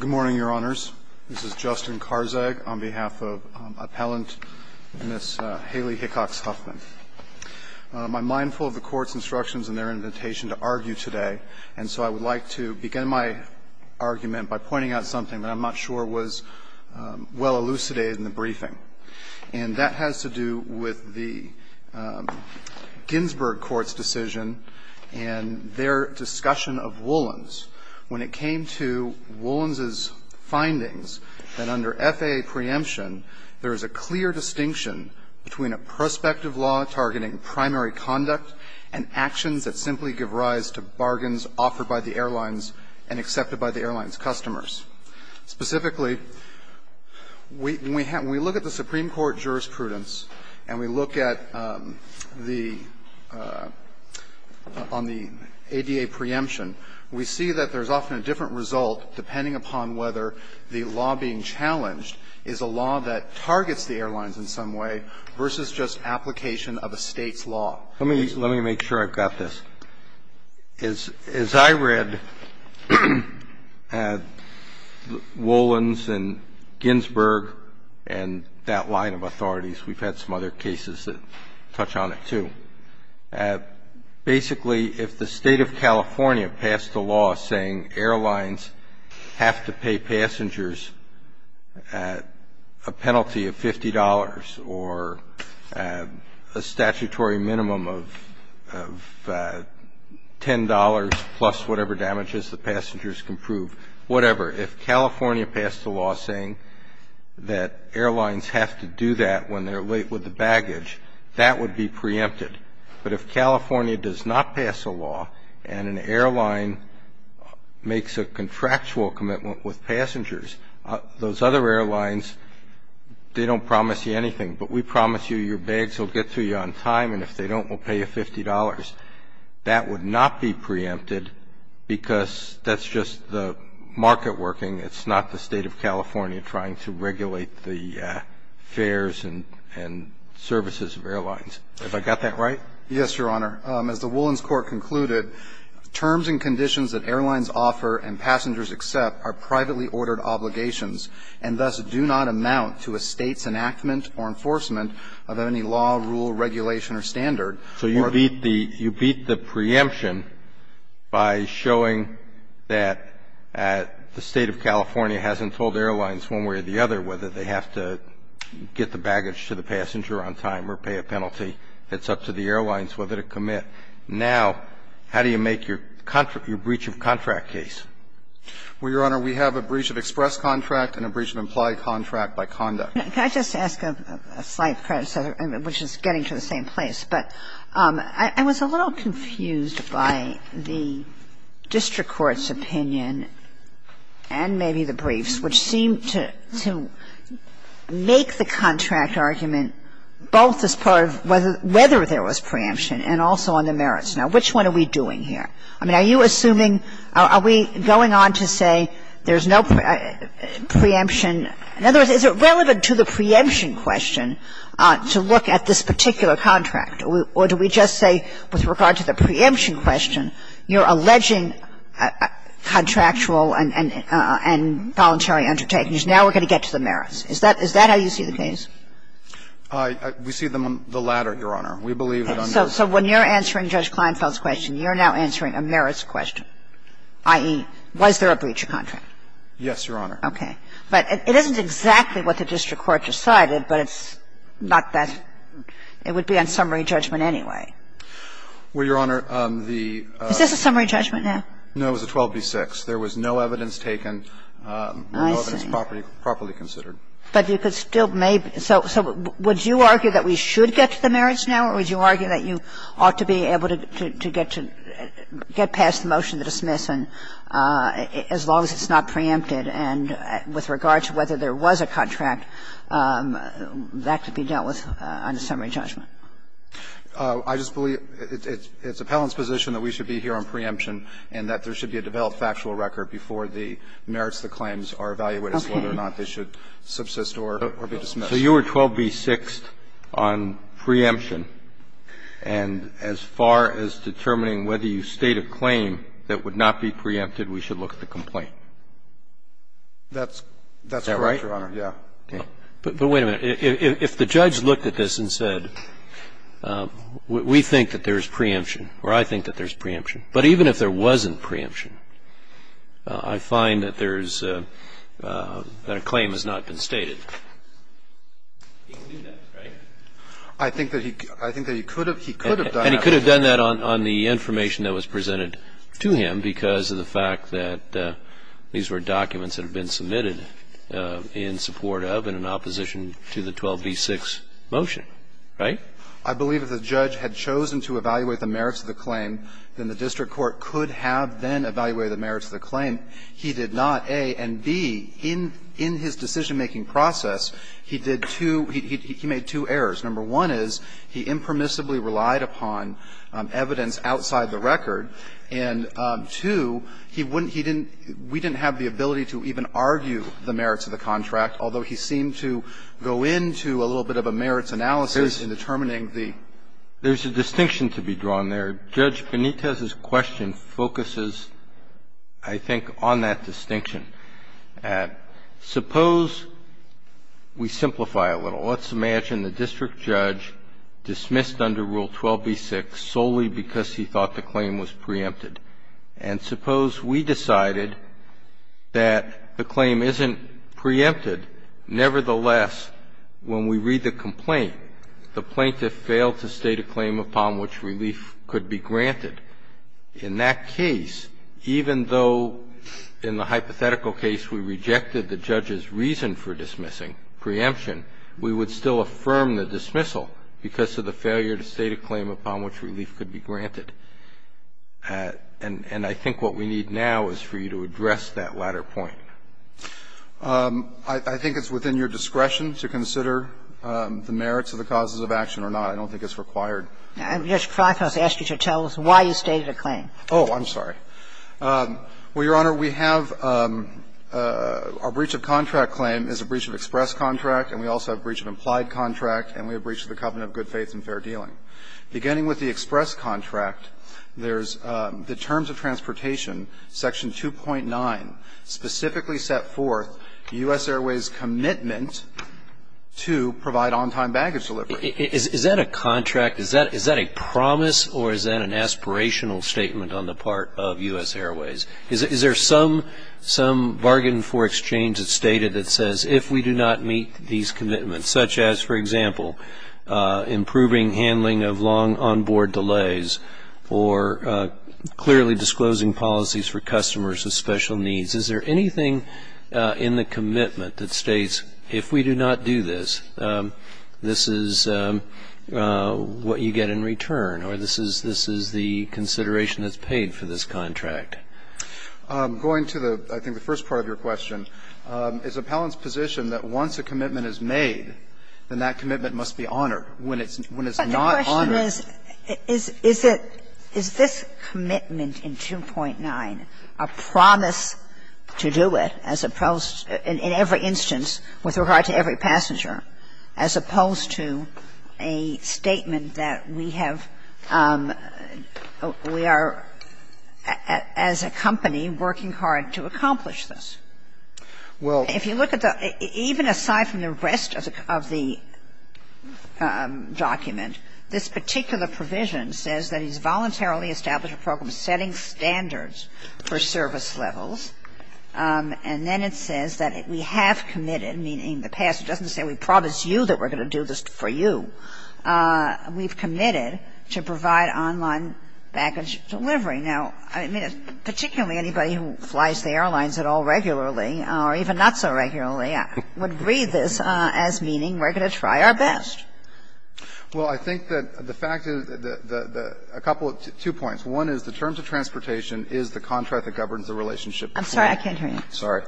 Good morning, Your Honors. This is Justin Karzag on behalf of Appellant Ms. Haley Hickcox-Huffman. I'm mindful of the Court's instructions and their invitation to argue today, and so I would like to begin my argument by pointing out something that I'm not sure was well elucidated in the briefing, and that has to do with the Ginsburg Court's decision and their discussion of Woolens. When it came to Woolens' findings that under FAA preemption, there is a clear distinction between a prospective law targeting primary conduct and actions that simply give rise to bargains offered by the airlines and accepted by the airlines' customers. Specifically, when we look at the Supreme Court jurisprudence and we look at the ADA preemption, we see that there's often a different result depending upon whether the law being challenged is a law that targets the airlines in some way versus just application of a State's law. Let me make sure I've got this. As I read at Woolens and Ginsburg and that line of authorities, we've had some other cases that touch on it, too. Basically, if the State of California passed a law saying airlines have to pay passengers a penalty of $50 or a statutory minimum of $10 plus whatever damages the passengers can prove, whatever, if California passed a law saying that airlines have to do that when they're late with the baggage, that would be preempted. But if California does not pass a law and an airline makes a contractual commitment with passengers, those other airlines, they don't promise you anything, but we promise you your bags will get to you on time, and if they don't, we'll pay you $50. That would not be preempted because that's just the market working. It's not the State of California trying to regulate the fares and services of airlines. Have I got that right? Yes, Your Honor. As the Woolens Court concluded, terms and conditions that airlines offer and passengers accept are privately ordered obligations and thus do not amount to a State's enactment or enforcement of any law, rule, regulation or standard. So you beat the preemption by showing that the State of California hasn't told airlines one way or the other whether they have to get the baggage to the passenger on time or pay a penalty. It's up to the airlines whether to commit. Now, how do you make your breach of contract case? Well, Your Honor, we have a breach of express contract and a breach of implied contract by conduct. Can I just ask a slight question, which is getting to the same place? But I was a little confused by the district court's opinion and maybe the briefs, which seem to make the contract argument both as part of whether there was preemption and also on the merits. Now, which one are we doing here? I mean, are you assuming, are we going on to say there's no preemption? In other words, is it relevant to the preemption question to look at this particular contract, or do we just say with regard to the preemption question, you're alleging contractual and voluntary undertakings? Now we're going to get to the merits. Is that how you see the case? We see them on the latter, Your Honor. We believe that under the merits. So when you're answering Judge Kleinfeld's question, you're now answering a merits question, i.e., was there a breach of contract? Yes, Your Honor. Okay. But it isn't exactly what the district court decided, but it's not that – it would be on summary judgment anyway. Well, Your Honor, the – Is this a summary judgment now? No. It was a 12b-6. There was no evidence taken. I see. No evidence properly considered. But you could still maybe – so would you argue that we should get to the merits now, or would you argue that you ought to be able to get to – get past the motion to dismiss and – as long as it's not preempted, and with regard to whether there was a contract, that could be dealt with on the summary judgment? I just believe it's Appellant's position that we should be here on preemption and that there should be a developed factual record before the merits of the claims are evaluated as to whether or not they should subsist or be dismissed. So you are 12b-6 on preemption, and as far as determining whether you state a claim that would not be preempted, we should look at the complaint? That's correct, Your Honor. Is that right? Yeah. Okay. But wait a minute. If the judge looked at this and said, we think that there's preemption, or I think that there's preemption, but even if there wasn't preemption, I find that there's – that a claim has not been stated. He can do that, right? I think that he could have done that. And he could have done that on the information that was presented to him because of the fact that these were documents that had been submitted in support of and in opposition to the 12b-6 motion, right? I believe if the judge had chosen to evaluate the merits of the claim, then the district court could have then evaluated the merits of the claim. And he did not, A, and, B, in his decision-making process, he did two – he made two errors. Number one is he impermissibly relied upon evidence outside the record. And, two, he wouldn't – he didn't – we didn't have the ability to even argue the merits of the contract, although he seemed to go into a little bit of a merits analysis in determining the – There's a distinction to be drawn there. Judge Benitez's question focuses, I think, on that distinction. Suppose we simplify a little. Let's imagine the district judge dismissed under Rule 12b-6 solely because he thought the claim was preempted. And suppose we decided that the claim isn't preempted. Nevertheless, when we read the complaint, the plaintiff failed to state a claim upon which relief could be granted. In that case, even though in the hypothetical case we rejected the judge's reason for dismissing preemption, we would still affirm the dismissal because of the failure to state a claim upon which relief could be granted. And I think what we need now is for you to address that latter point. I think it's within your discretion to consider the merits of the causes of action or not. I don't think it's required. I'm just trying to ask you to tell us why you stated a claim. Oh, I'm sorry. Well, Your Honor, we have – our breach of contract claim is a breach of express contract, and we also have a breach of implied contract, and we have a breach of the covenant of good faith and fair dealing. Beginning with the express contract, there's the terms of transportation, section 2.9, specifically set forth U.S. Airways' commitment to provide on-time baggage delivery. Is that a contract? Is that a promise, or is that an aspirational statement on the part of U.S. Airways? Is there some bargain for exchange that's stated that says, if we do not meet these commitments, such as, for example, improving handling of long on-board delays or clearly disclosing policies for customers of special needs, is there anything in the commitment that states, if we do not do this, this is what you get in return, or this is the consideration that's paid for this contract? Going to the, I think, the first part of your question, it's Appellant's position that once a commitment is made, then that commitment must be honored. When it's not honored – But the question is, is it – is this commitment in 2.9 a promise to do it? Is it a commitment to do it, as opposed – in every instance, with regard to every passenger, as opposed to a statement that we have – we are, as a company, working hard to accomplish this? Well, if you look at the – even aside from the rest of the document, this particular provision says that he's voluntarily established a program setting standards for service levels. And then it says that we have committed, meaning the pass – it doesn't say we promise you that we're going to do this for you. We've committed to provide online baggage delivery. Now, I mean, particularly anybody who flies the airlines at all regularly, or even not so regularly, would read this as meaning we're going to try our best. Well, I think that the fact is that the – a couple of – two points. One is the terms of transportation is the contract that governs the relationship between – I'm sorry. I can't hear you. Sorry.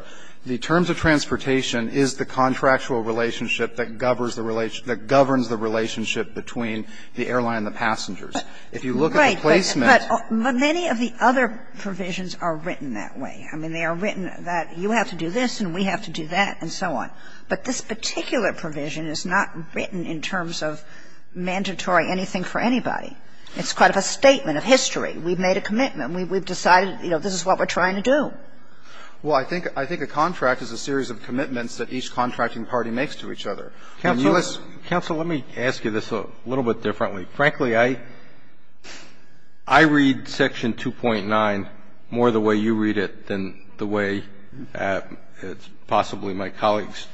The terms of transportation is the contractual relationship that governs the relation – that governs the relationship between the airline and the passengers. If you look at the placement – Right. But many of the other provisions are written that way. I mean, they are written that you have to do this and we have to do that and so on. But this particular provision is not written in terms of mandatory anything for anybody. It's quite a statement of history. We've made a commitment. We've decided, you know, this is what we're trying to do. Well, I think a contract is a series of commitments that each contracting party makes to each other. Counsel, let's – Counsel, let me ask you this a little bit differently. Frankly, I read Section 2.9 more the way you read it than the way possibly my colleagues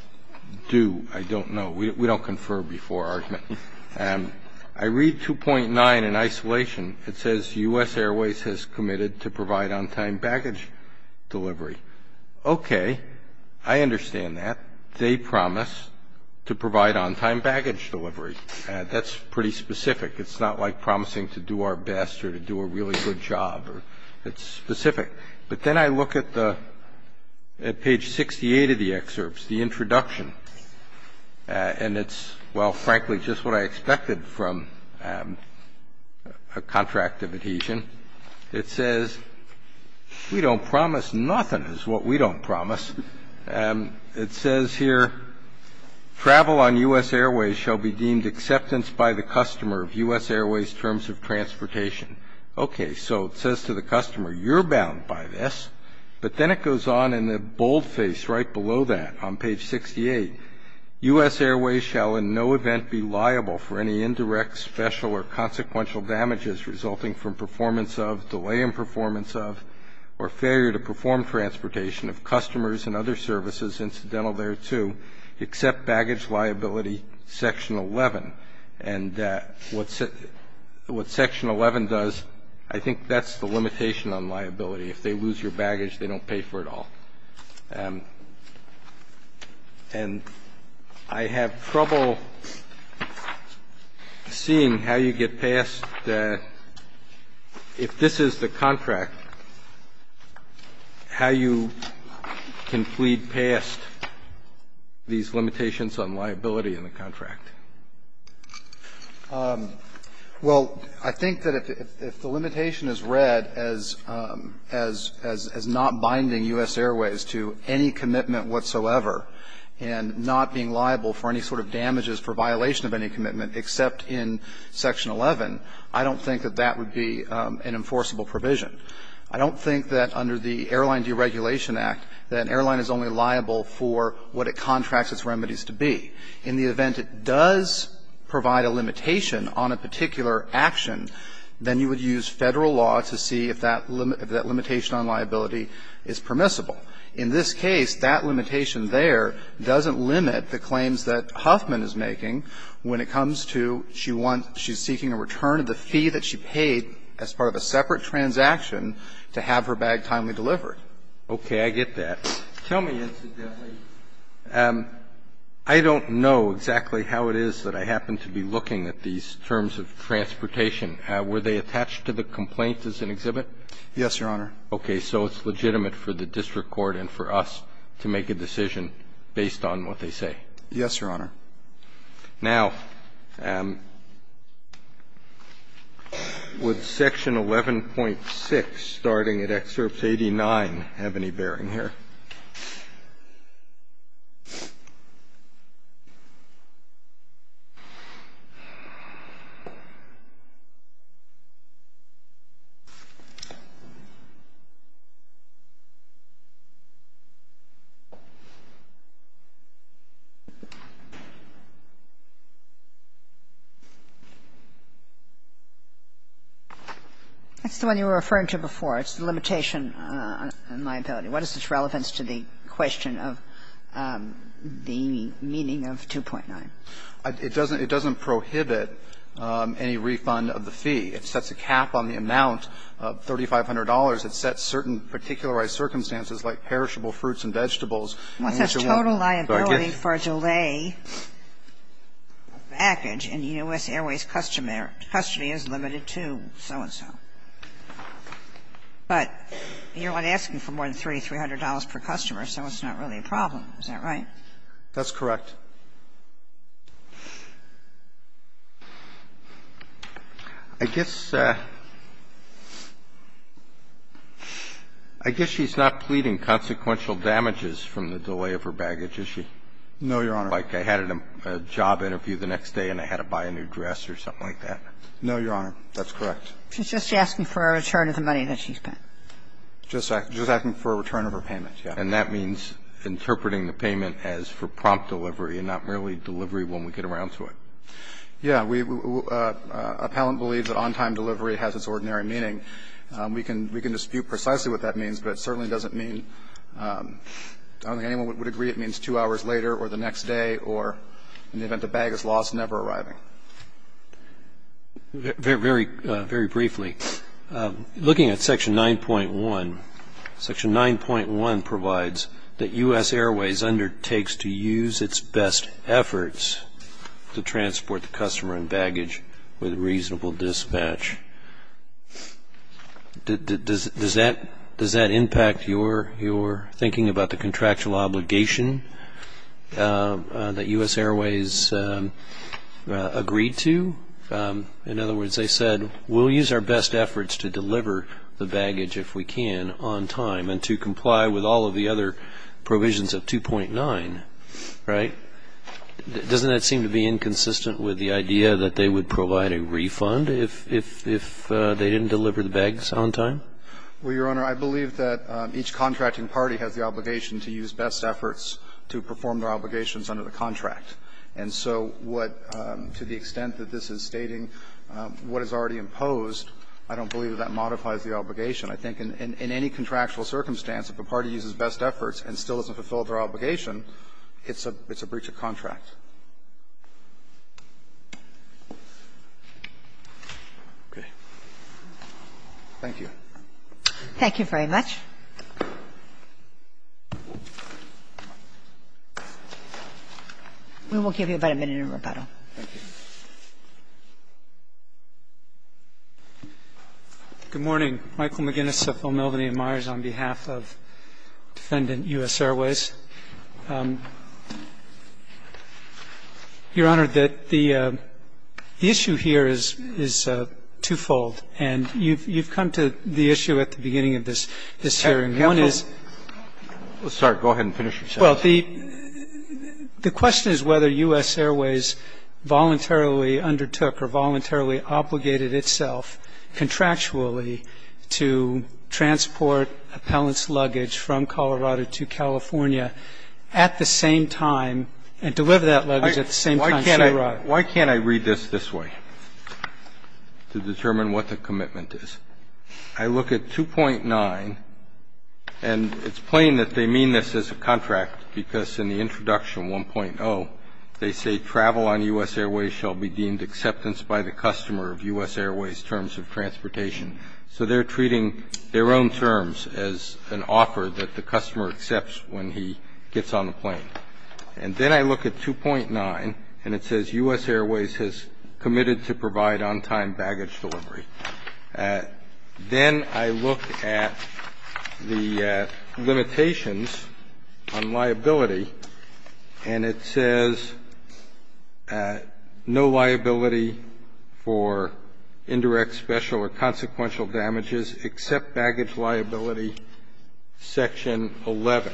do, I don't know. We don't confer before argument. I read 2.9 in isolation. It says, U.S. Airways has committed to provide on-time baggage delivery. Okay. I understand that. They promise to provide on-time baggage delivery. That's pretty specific. It's not like promising to do our best or to do a really good job. It's specific. But then I look at the – at page 68 of the excerpts, the introduction, and it's, well, frankly, just what I expected from a contract of adhesion. It says, we don't promise nothing is what we don't promise. It says here, travel on U.S. Airways shall be deemed acceptance by the customer of U.S. Airways terms of transportation. Okay, so it says to the customer, you're bound by this. But then it goes on in the boldface right below that on page 68. U.S. Airways shall in no event be liable for any indirect, special, or consequential damages resulting from performance of, delay in performance of, or failure to perform transportation of customers and other services, incidental thereto, except baggage liability, section 11. And what section 11 does, I think that's the limitation on liability. If they lose your baggage, they don't pay for it all. And I have trouble seeing how you get past that. If this is the contract, how you can flee past these limitations on liability in the contract. Well, I think that if the limitation is read as not binding U.S. Airways to any commitment whatsoever, and not being liable for any sort of damages for violation of any commitment except in section 11, I don't think that that would be an enforceable provision. I don't think that under the Airline Deregulation Act, that an airline is only liable for what it contracts its remedies to be. In the event it does provide a limitation on a particular action, then you would use Federal law to see if that limitation on liability is permissible. In this case, that limitation there doesn't limit the claims that Huffman is making when it comes to she wants, she's seeking a return of the fee that she paid as part of a separate transaction to have her bag timely delivered. Okay. I get that. Tell me, incidentally, I don't know exactly how it is that I happen to be looking at these terms of transportation. Were they attached to the complaint as an exhibit? Yes, Your Honor. Okay. So it's legitimate for the district court and for us to make a decision based on what they say? Yes, Your Honor. Now, would section 11.6, starting at excerpt 89, have any bearing here? That's the one you were referring to before. It's the limitation on liability. What is its relevance to the question of the meaning of 2.9? It doesn't prohibit any refund of the fee. It sets a cap on the amount of $3,500. It sets certain particularized circumstances like perishable fruits and vegetables. Once there's total liability for a delay, a package in the U.S. Airways custody is limited to so-and-so. But you're asking for more than $3,300 per customer, so it's not really a problem. Is that right? That's correct. I guess she's not pleading consequential damages from the delay of her baggage, is she? No, Your Honor. Like I had a job interview the next day and I had to buy a new dress or something like that? No, Your Honor. That's correct. She's just asking for a return of the money that she spent. Just asking for a return of her payment, yes. And that means interpreting the payment as for prompt delivery and not merely delivery when we get around to it. Yes. Appellant believes that on-time delivery has its ordinary meaning. We can dispute precisely what that means, but it certainly doesn't mean – I don't think anyone would agree it means two hours later or the next day or in the event the bag is lost, never arriving. Very briefly, looking at Section 9.1, Section 9.1 provides that U.S. Airways undertakes to use its best efforts to transport the customer and baggage with reasonable dispatch. Does that impact your thinking about the contractual obligation that U.S. Airways agreed to? In other words, they said, we'll use our best efforts to deliver the baggage if we can on time and to comply with all of the other provisions of 2.9, right? Doesn't that seem to be inconsistent with the idea that they would provide a refund if they didn't deliver the bags on time? Well, Your Honor, I believe that each contracting party has the obligation to use best efforts to perform their obligations under the contract. And so to the extent that this is stating what is already imposed, I don't believe that that modifies the obligation. I think in any contractual circumstance, if a party uses best efforts and still doesn't fulfill their obligation, it's a breach of contract. Okay. Thank you. Thank you very much. We will give you about a minute of rebuttal. Thank you. Good morning. Michael McGinnis of Phil Melvaney & Myers on behalf of Defendant U.S. Airways. Your Honor, the issue here is twofold. And you've come to the issue at the beginning of this hearing. One is the question is whether U.S. Airways voluntarily undertook or voluntarily obligated itself contractually to transport appellant's luggage from Colorado to California at the same time and deliver that luggage at the same time she arrived. Why can't I read this this way to determine what the commitment is? I look at 2.9, and it's plain that they mean this as a contract, because in the introduction, 1.0, they say, travel on U.S. Airways shall be deemed acceptance by the customer of U.S. Airways terms of transportation. So they're treating their own terms as an offer that the customer accepts when he gets on the plane. And then I look at 2.9, and it says U.S. Airways has committed to provide non-time baggage delivery. Then I look at the limitations on liability, and it says no liability for indirect, special, or consequential damages except baggage liability, Section 11.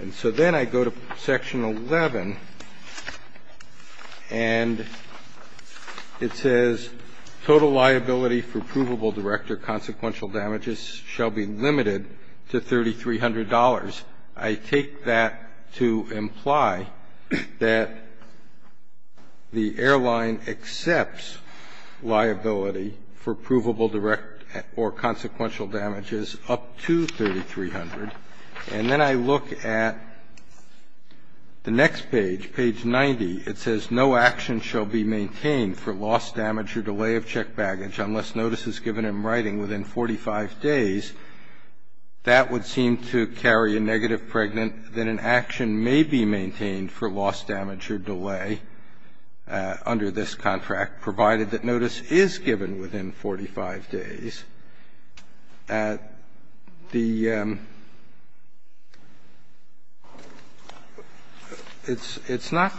And so then I go to Section 11, and it says total liability for provable, direct, or consequential damages shall be limited to $3,300. I take that to imply that the airline accepts liability for provable, direct, or consequential damages up to $3,300. And then I look at the next page, page 90. It says, no action shall be maintained for lost damage or delay of checked baggage unless notice is given in writing within 45 days. That would seem to carry a negative pregnant that an action may be maintained for lost damage or delay under this contract, provided that notice is given within 45 days. It's not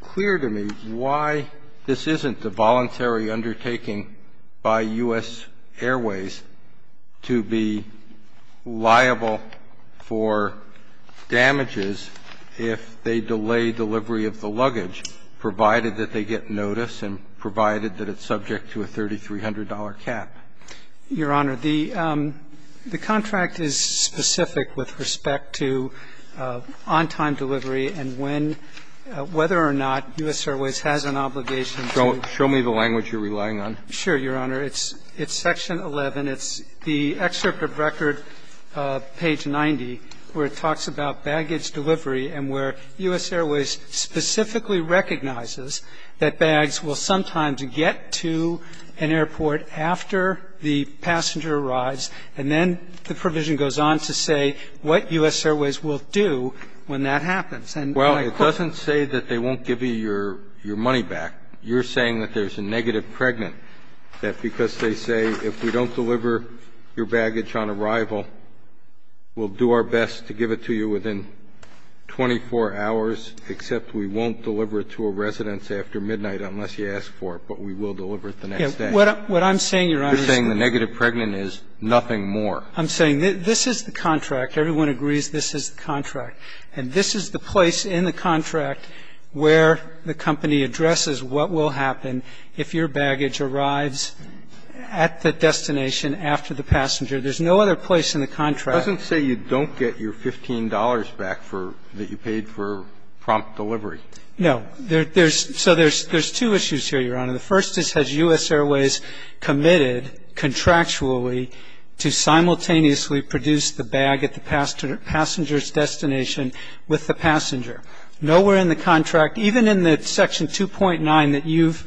clear to me why this isn't a voluntary undertaking by U.S. Airways to be liable for damages if they delay delivery of the luggage, provided that they get notice and provided that it's subject to a $3,300 cap. Your Honor, the contract is specific with respect to on-time delivery and whether or not U.S. Airways has an obligation to Show me the language you're relying on. Sure, Your Honor. It's Section 11. It's the excerpt of record, page 90, where it talks about baggage delivery and where U.S. Airways specifically recognizes that bags will sometimes get to an airport after the passenger arrives and then the provision goes on to say what U.S. Airways will do when that happens. Well, it doesn't say that they won't give you your money back. You're saying that there's a negative pregnant, that because they say if we don't deliver your baggage on arrival, we'll do our best to give it to you within 24 hours, except we won't deliver it to a residence after midnight unless you ask for it, but we will deliver it the next day. What I'm saying, Your Honor, You're saying the negative pregnant is nothing more. I'm saying this is the contract. Everyone agrees this is the contract. And this is the place in the contract where the company addresses what will happen if your baggage arrives at the destination after the passenger. There's no other place in the contract. It doesn't say you don't get your $15 back that you paid for prompt delivery. No. So there's two issues here, Your Honor. The first is, has U.S. Airways committed contractually to simultaneously produce the bag at the passenger's destination with the passenger? Nowhere in the contract, even in the Section 2.9 that you've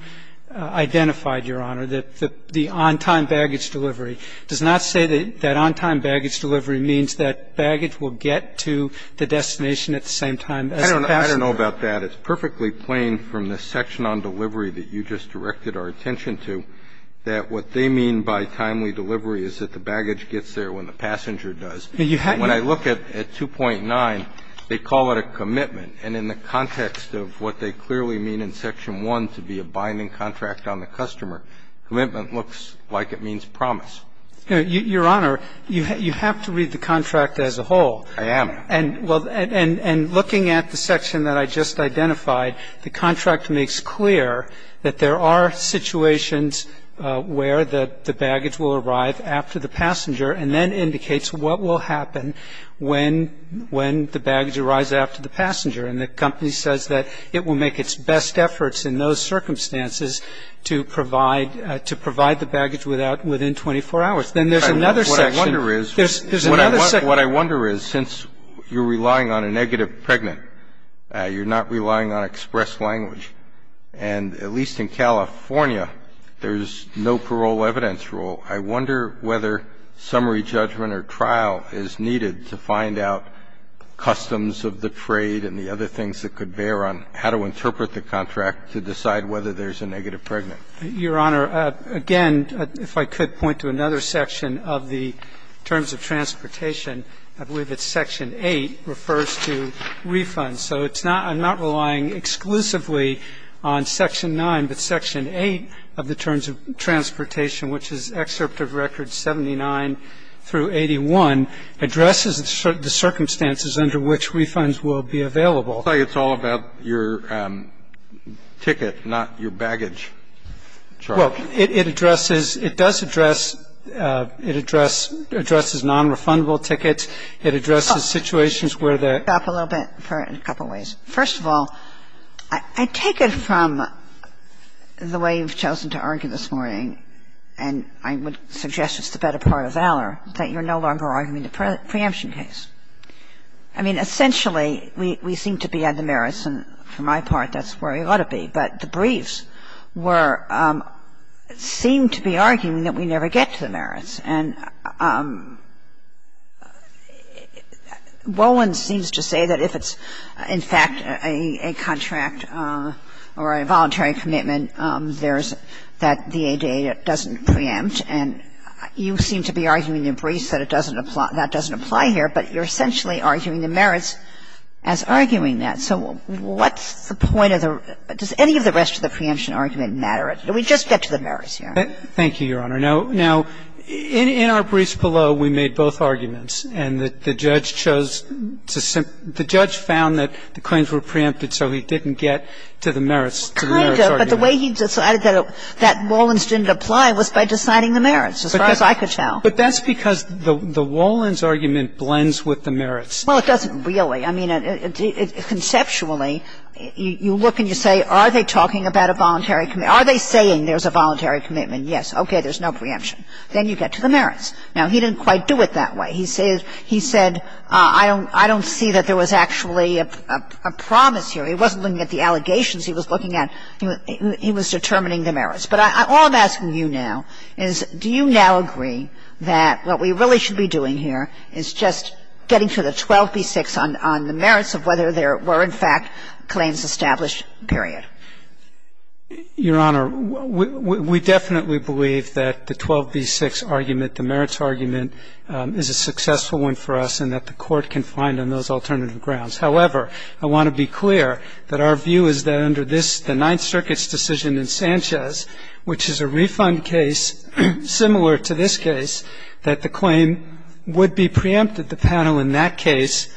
identified, Your Honor, the on-time baggage delivery does not say that on-time baggage delivery means that baggage will get to the destination at the same time as the passenger. I don't know about that. It's perfectly plain from the section on delivery that you just directed our attention to that what they mean by timely delivery is that the baggage gets there when the passenger does. When I look at 2.9, they call it a commitment. And in the context of what they clearly mean in Section 1 to be a binding contract on the customer, commitment looks like it means promise. Your Honor, you have to read the contract as a whole. I am. And looking at the section that I just identified, the contract makes clear that there are situations where the baggage will arrive after the passenger and then indicates what will happen when the baggage arrives after the passenger. And the company says that it will make its best efforts in those circumstances to provide the baggage within 24 hours. Then there's another section. What I wonder is since you're relying on a negative pregnant, you're not relying on express language, and at least in California there's no parole evidence rule, I wonder whether summary judgment or trial is needed to find out customs of the trade and the other things that could bear on how to interpret the contract to decide whether there's a negative pregnant. Your Honor, again, if I could point to another section of the terms of transportation, I believe it's Section 8 refers to refunds. So it's not – I'm not relying exclusively on Section 9, but Section 8 of the terms of transportation, which is excerpt of Records 79 through 81, addresses the circumstances under which refunds will be available. It's all about your ticket, not your baggage charge. Well, it addresses – it does address – it addresses nonrefundable tickets. It addresses situations where the – Stop a little bit for a couple of ways. First of all, I take it from the way you've chosen to argue this morning, and I would suggest it's the better part of valor, that you're no longer arguing the preemption case. I mean, essentially, we seem to be at the merits, and for my part that's where we ought to be. But the briefs were – seemed to be arguing that we never get to the merits. And Wolin seems to say that if it's, in fact, a contract or a voluntary commitment, that the ADA doesn't preempt. And you seem to be arguing in your briefs that it doesn't – that doesn't apply here, but you're essentially arguing the merits as arguing that. So what's the point of the – does any of the rest of the preemption argument matter? Do we just get to the merits here? Thank you, Your Honor. Now, in our briefs below, we made both arguments, and the judge chose to – the judge found that the claims were preempted, so he didn't get to the merits, to the merits argument. But the way he decided that Wolin's didn't apply was by deciding the merits, as far as I could tell. But that's because the Wolin's argument blends with the merits. Well, it doesn't really. I mean, conceptually, you look and you say, are they talking about a voluntary – are they saying there's a voluntary commitment? Yes. Okay, there's no preemption. Then you get to the merits. Now, he didn't quite do it that way. He said, I don't see that there was actually a promise here. He wasn't looking at the allegations he was looking at. He was determining the merits. But all I'm asking you now is do you now agree that what we really should be doing here is just getting to the 12b-6 on the merits of whether there were, in fact, claims established, period? Your Honor, we definitely believe that the 12b-6 argument, the merits argument, is a successful one for us and that the Court can find on those alternative grounds. However, I want to be clear that our view is that under the Ninth Circuit's decision in Sanchez, which is a refund case similar to this case, that the claim would be preempted. The panel in that case,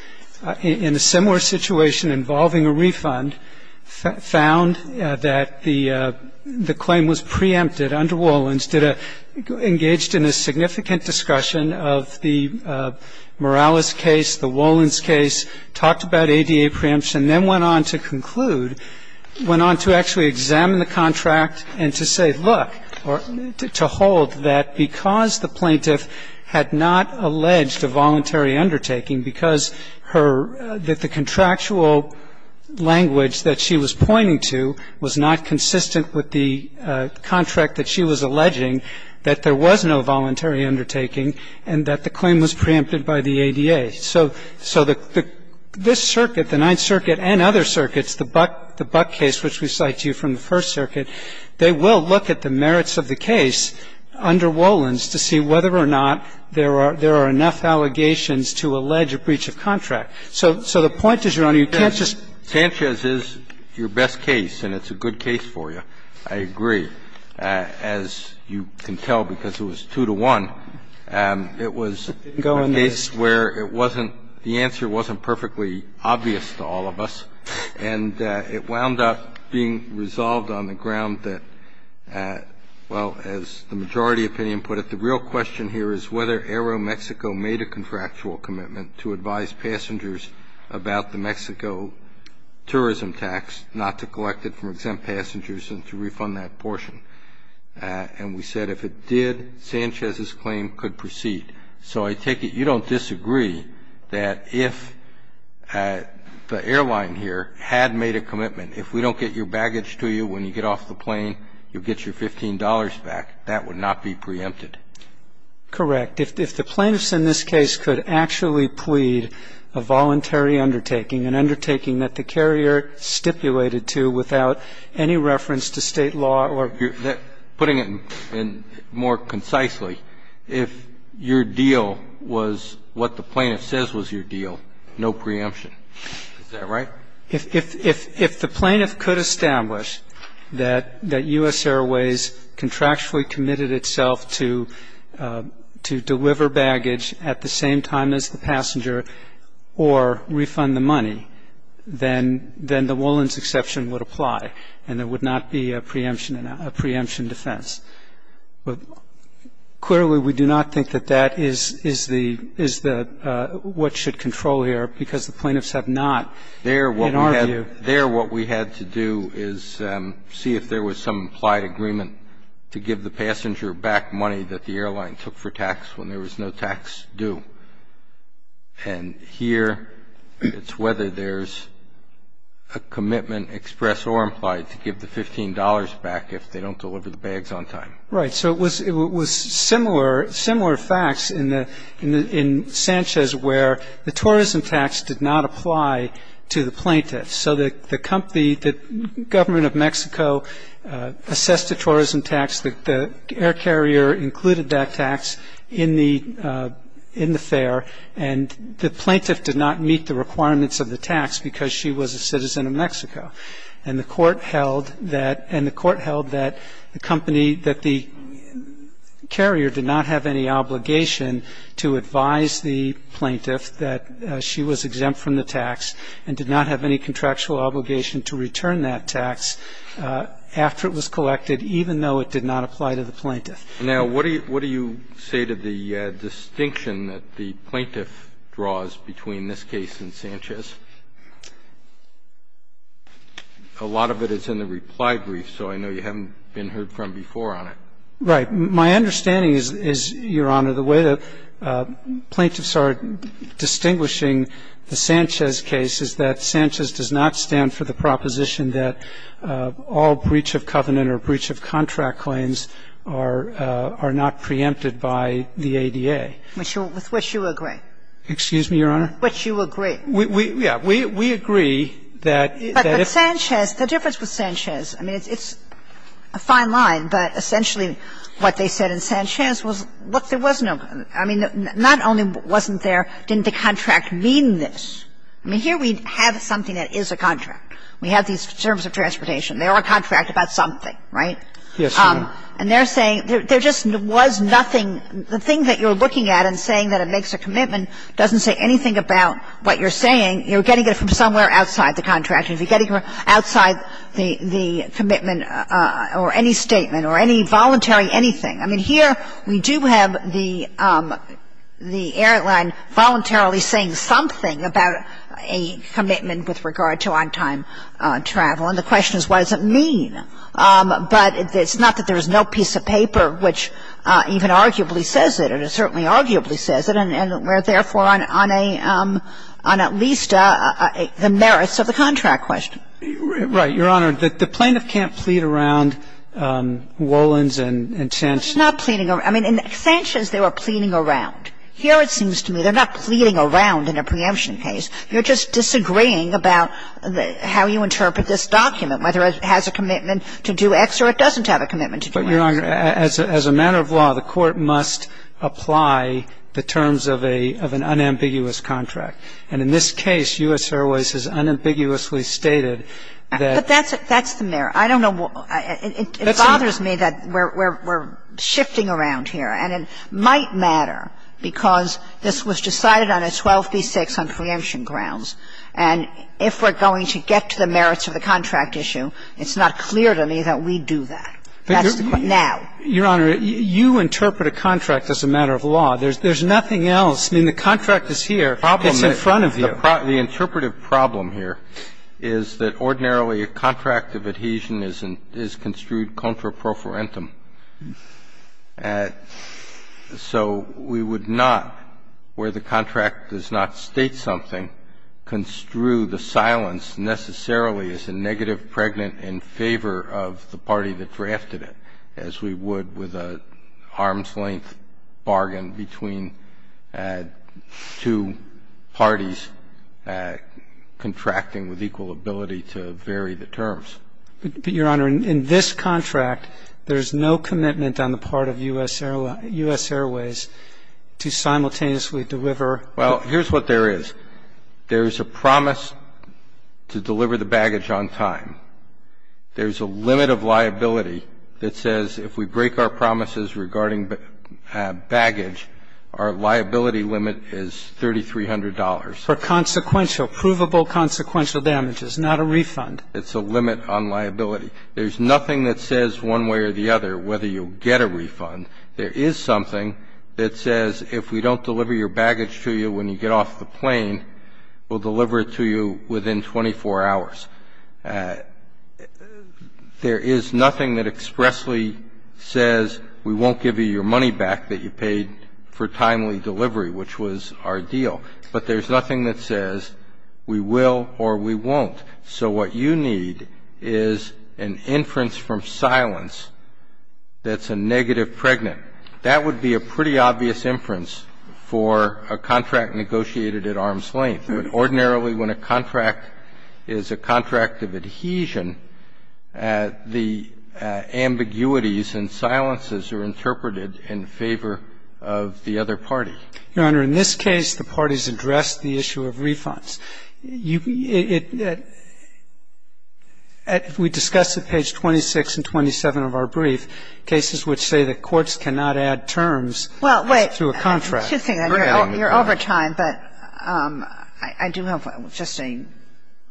in a similar situation involving a refund, found that the claim was preempted under Wolin's, engaged in a significant discussion of the Morales case, the Wolin's case, talked about ADA preemption, then went on to conclude, went on to actually examine the contract and to say, look, or to hold that because the plaintiff had not alleged a voluntary undertaking, because her, that the contractual language that she was pointing to was not consistent with the contract that she was alleging, that there was no voluntary undertaking and that the claim was preempted by the ADA. So this circuit, the Ninth Circuit and other circuits, the Buck case, which we cite to you from the First Circuit, they will look at the merits of the case under Wolin's to see whether or not there are enough allegations to allege a breach of contract. So the point is, Your Honor, you can't just go in there and say, Sanchez is your best case and it's a good case for you. I agree. As you can tell, because it was 2 to 1, it was a case where it wasn't, the answer wasn't perfectly obvious to all of us, and it wound up being resolved on the ground that, well, as the majority opinion put it, the real question here is whether Aeromexico made a contractual commitment to advise passengers about the Mexico tourism tax, not to collect it from exempt passengers and to refund that portion. And we said if it did, Sanchez's claim could proceed. So I take it you don't disagree that if the airline here had made a commitment, if we don't get your baggage to you when you get off the plane, you'll get your $15 back, that would not be preempted. Correct. If the plaintiffs in this case could actually plead a voluntary undertaking, that the carrier stipulated to without any reference to state law or... Putting it more concisely, if your deal was what the plaintiff says was your deal, no preemption. Is that right? If the plaintiff could establish that U.S. Airways contractually committed itself to deliver baggage at the same time as the passenger or refund the money, then the Woollens exception would apply and there would not be a preemption defense. But clearly we do not think that that is what should control here because the plaintiffs have not, in our view... There what we had to do is see if there was some implied agreement to give the passenger back money that the airline took for tax when there was no tax due. And here it's whether there's a commitment expressed or implied to give the $15 back if they don't deliver the bags on time. Right. So it was similar facts in Sanchez where the tourism tax did not apply to the plaintiffs. The government of Mexico assessed the tourism tax. The air carrier included that tax in the fare and the plaintiff did not meet the requirements of the tax because she was a citizen of Mexico. And the court held that the carrier did not have any obligation to advise the plaintiff that she was exempt from the tax and did not have any contractual obligation to return that tax after it was collected, even though it did not apply to the plaintiff. Now, what do you say to the distinction that the plaintiff draws between this case and Sanchez? A lot of it is in the reply brief, so I know you haven't been heard from before on it. Right. My understanding is, Your Honor, the way the plaintiffs are distinguishing the Sanchez case is that Sanchez does not stand for the proposition that all breach of covenant or breach of contract claims are not preempted by the ADA. With which you agree. Excuse me, Your Honor? With which you agree. Yeah. We agree that if... But Sanchez, the difference with Sanchez, I mean, it's a fine line, but essentially what they said in Sanchez was, look, there was no, I mean, not only wasn't there, didn't the contract mean this? I mean, here we have something that is a contract. We have these terms of transportation. They are a contract about something, right? Yes, Your Honor. And they're saying there just was nothing. The thing that you're looking at and saying that it makes a commitment doesn't say anything about what you're saying. You're getting it from somewhere outside the contract. You're getting it from outside the commitment or any statement or any voluntary anything. I mean, here we do have the airline voluntarily saying something about a commitment with regard to on-time travel, and the question is, what does it mean? But it's not that there is no piece of paper which even arguably says it, and it certainly arguably says it, and therefore on at least the merits of the contract question. Right, Your Honor. The plaintiff can't plead around Wolins and Sanchez. They're not pleading around. I mean, in Sanchez they were pleading around. Here it seems to me they're not pleading around in a preemption case. You're just disagreeing about how you interpret this document, whether it has a commitment to do X or it doesn't have a commitment to do X. But, Your Honor, as a matter of law, the court must apply the terms of an unambiguous contract. And in this case, U.S. Airways has unambiguously stated that. But that's the merit. I don't know. It bothers me that we're shifting around here. And it might matter because this was decided on a 12b-6 on preemption grounds. And if we're going to get to the merits of the contract issue, it's not clear to me that we do that. That's the question. So, Your Honor, you interpret a contract as a matter of law. There's nothing else. I mean, the contract is here. It's in front of you. The interpretive problem here is that ordinarily a contract of adhesion is construed contra pro forentum. So we would not, where the contract does not state something, construe the silence as a negative pregnant in favor of the party that drafted it, as we would with a arm's-length bargain between two parties contracting with equal ability to vary the terms. But, Your Honor, in this contract, there's no commitment on the part of U.S. Airways to simultaneously deliver. Well, here's what there is. There's a promise to deliver the baggage on time. There's a limit of liability that says if we break our promises regarding baggage, our liability limit is $3,300. For consequential, provable consequential damages, not a refund. It's a limit on liability. There's nothing that says one way or the other whether you'll get a refund. There is something that says if we don't deliver your baggage to you when you get off the plane, we'll deliver it to you within 24 hours. There is nothing that expressly says we won't give you your money back that you paid for timely delivery, which was our deal. But there's nothing that says we will or we won't. So what you need is an inference from silence that's a negative pregnant. That would be a pretty obvious inference for a contract negotiated at arm's length. Ordinarily, when a contract is a contract of adhesion, the ambiguities and silences are interpreted in favor of the other party. Your Honor, in this case, the parties addressed the issue of refunds. We discussed at page 26 and 27 of our brief cases which say that courts cannot add terms to a contract. Well, wait. You're over time, but I do have just a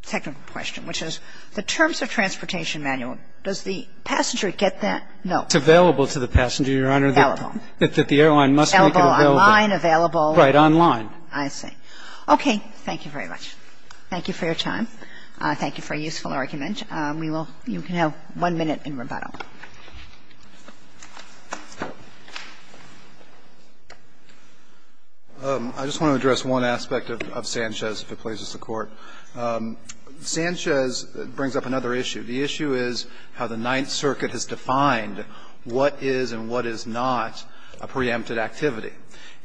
technical question, which is the terms of transportation manual, does the passenger get that? It's available to the passenger, Your Honor. Available. That the airline must make it available. Available online, available. Right, online. I see. Okay. Thank you very much. Thank you for your time. Thank you for a useful argument. You can have one minute in rebuttal. I just want to address one aspect of Sanchez if it pleases the Court. Sanchez brings up another issue. The issue is how the Ninth Circuit has defined what is and what is not a preempted activity.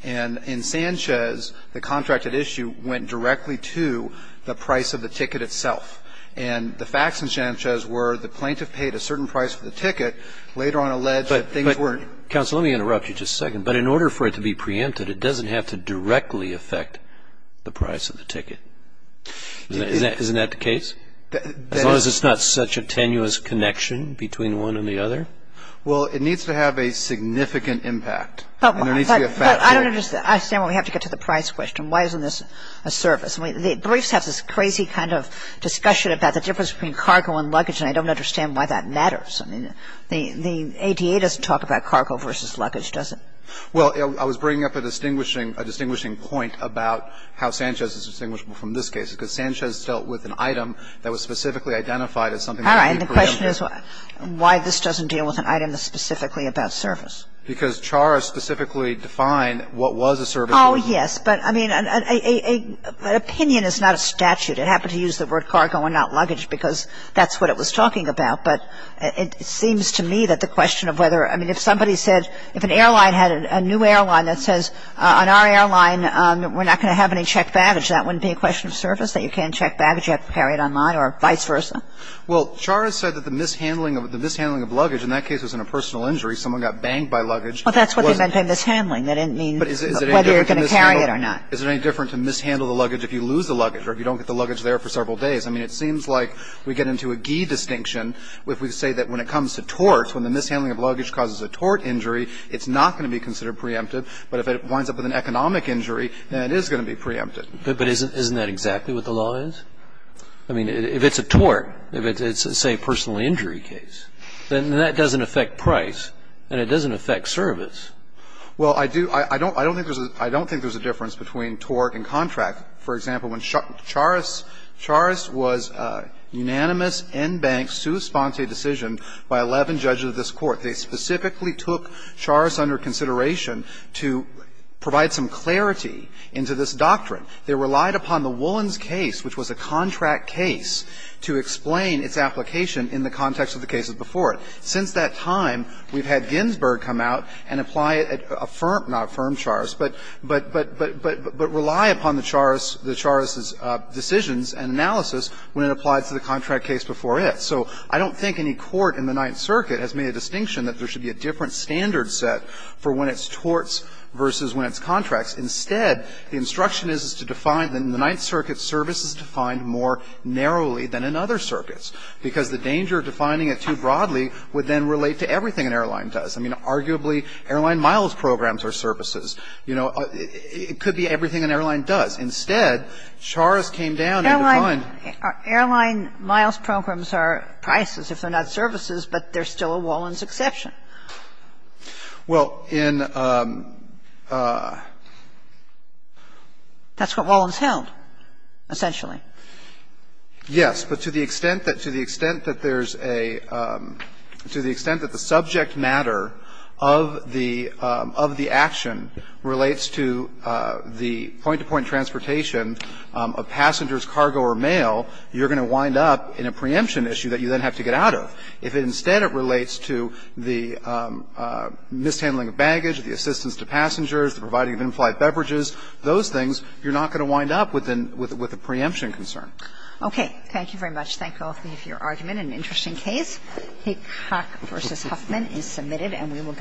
And in Sanchez, the contracted issue went directly to the price of the ticket itself. And the facts in Sanchez were the plaintiff paid a certain price for the ticket, later on alleged that things weren't. Counsel, let me interrupt you just a second. But in order for it to be preempted, it doesn't have to directly affect the price of the ticket. Isn't that the case? As long as it's not such a tenuous connection between one and the other? Well, it needs to have a significant impact. But I don't understand. We have to get to the price question. Why isn't this a service? Briefs have this crazy kind of discussion about the difference between cargo and luggage, and I don't understand why that matters. I mean, the ADA doesn't talk about cargo versus luggage, does it? Well, I was bringing up a distinguishing point about how Sanchez is distinguishable from this case. Because Sanchez dealt with an item that was specifically identified as something that would be preempted. All right. And the question is why this doesn't deal with an item that's specifically about service. Because Chara specifically defined what was a service. Oh, yes. But, I mean, an opinion is not a statute. It happened to use the word cargo and not luggage because that's what it was talking about. But it seems to me that the question of whether – I mean, if somebody said – if an airline had a new airline that says, on our airline, we're not going to have any checked baggage, that wouldn't be a question of service, that you can't check baggage, you have to carry it online, or vice versa? Well, Chara said that the mishandling of luggage in that case was in a personal injury. Someone got banged by luggage. Well, that's what they meant by mishandling. That didn't mean whether you were going to carry it or not. But is it any different to mishandle the luggage if you lose the luggage, or if you don't get the luggage there for several days? I mean, it seems like we get into a gee distinction if we say that when it comes to tort, when the mishandling of luggage causes a tort injury, it's not going to be considered preemptive. But if it winds up with an economic injury, then it is going to be preempted. But isn't that exactly what the law is? I mean, if it's a tort, if it's, say, a personal injury case, then that doesn't affect price. And it doesn't affect service. Well, I do – I don't think there's a difference between tort and contract. For example, when Chara's – Chara's was unanimous, en banc, sui sponte decision by 11 judges of this Court. They specifically took Chara's under consideration to provide some clarity into this doctrine. They relied upon the Woolens case, which was a contract case, to explain its application in the context of the cases before it. Since that time, we've had Ginsburg come out and apply it at a firm – not a firm Chara's, but – but rely upon the Chara's – the Chara's decisions and analysis when it applied to the contract case before it. So I don't think any court in the Ninth Circuit has made a distinction that there should be a different standard set for when it's torts versus when it's contracts. Instead, the instruction is to define – in the Ninth Circuit, service is defined more narrowly than in other circuits, because the danger of defining it too broadly would then relate to everything an airline does. I mean, arguably, airline miles programs are services. You know, it could be everything an airline does. Instead, Chara's came down and defined – Kagan. Airline miles programs are prices if they're not services, but there's still a Woolens exception. Well, in – That's what Woolens held, essentially. Yes, but to the extent that – to the extent that there's a – to the extent that the subject matter of the – of the action relates to the point-to-point transportation of passengers, cargo, or mail, you're going to wind up in a preemption issue that you then have to get out of. If instead it relates to the mishandling of baggage, the assistance to passengers, the providing of in-flight beverages, those things, you're not going to wind up with a preemption concern. Okay. Thank you very much. Thank you all for your argument. An interesting case. Haycock v. Huffman is submitted, and we will –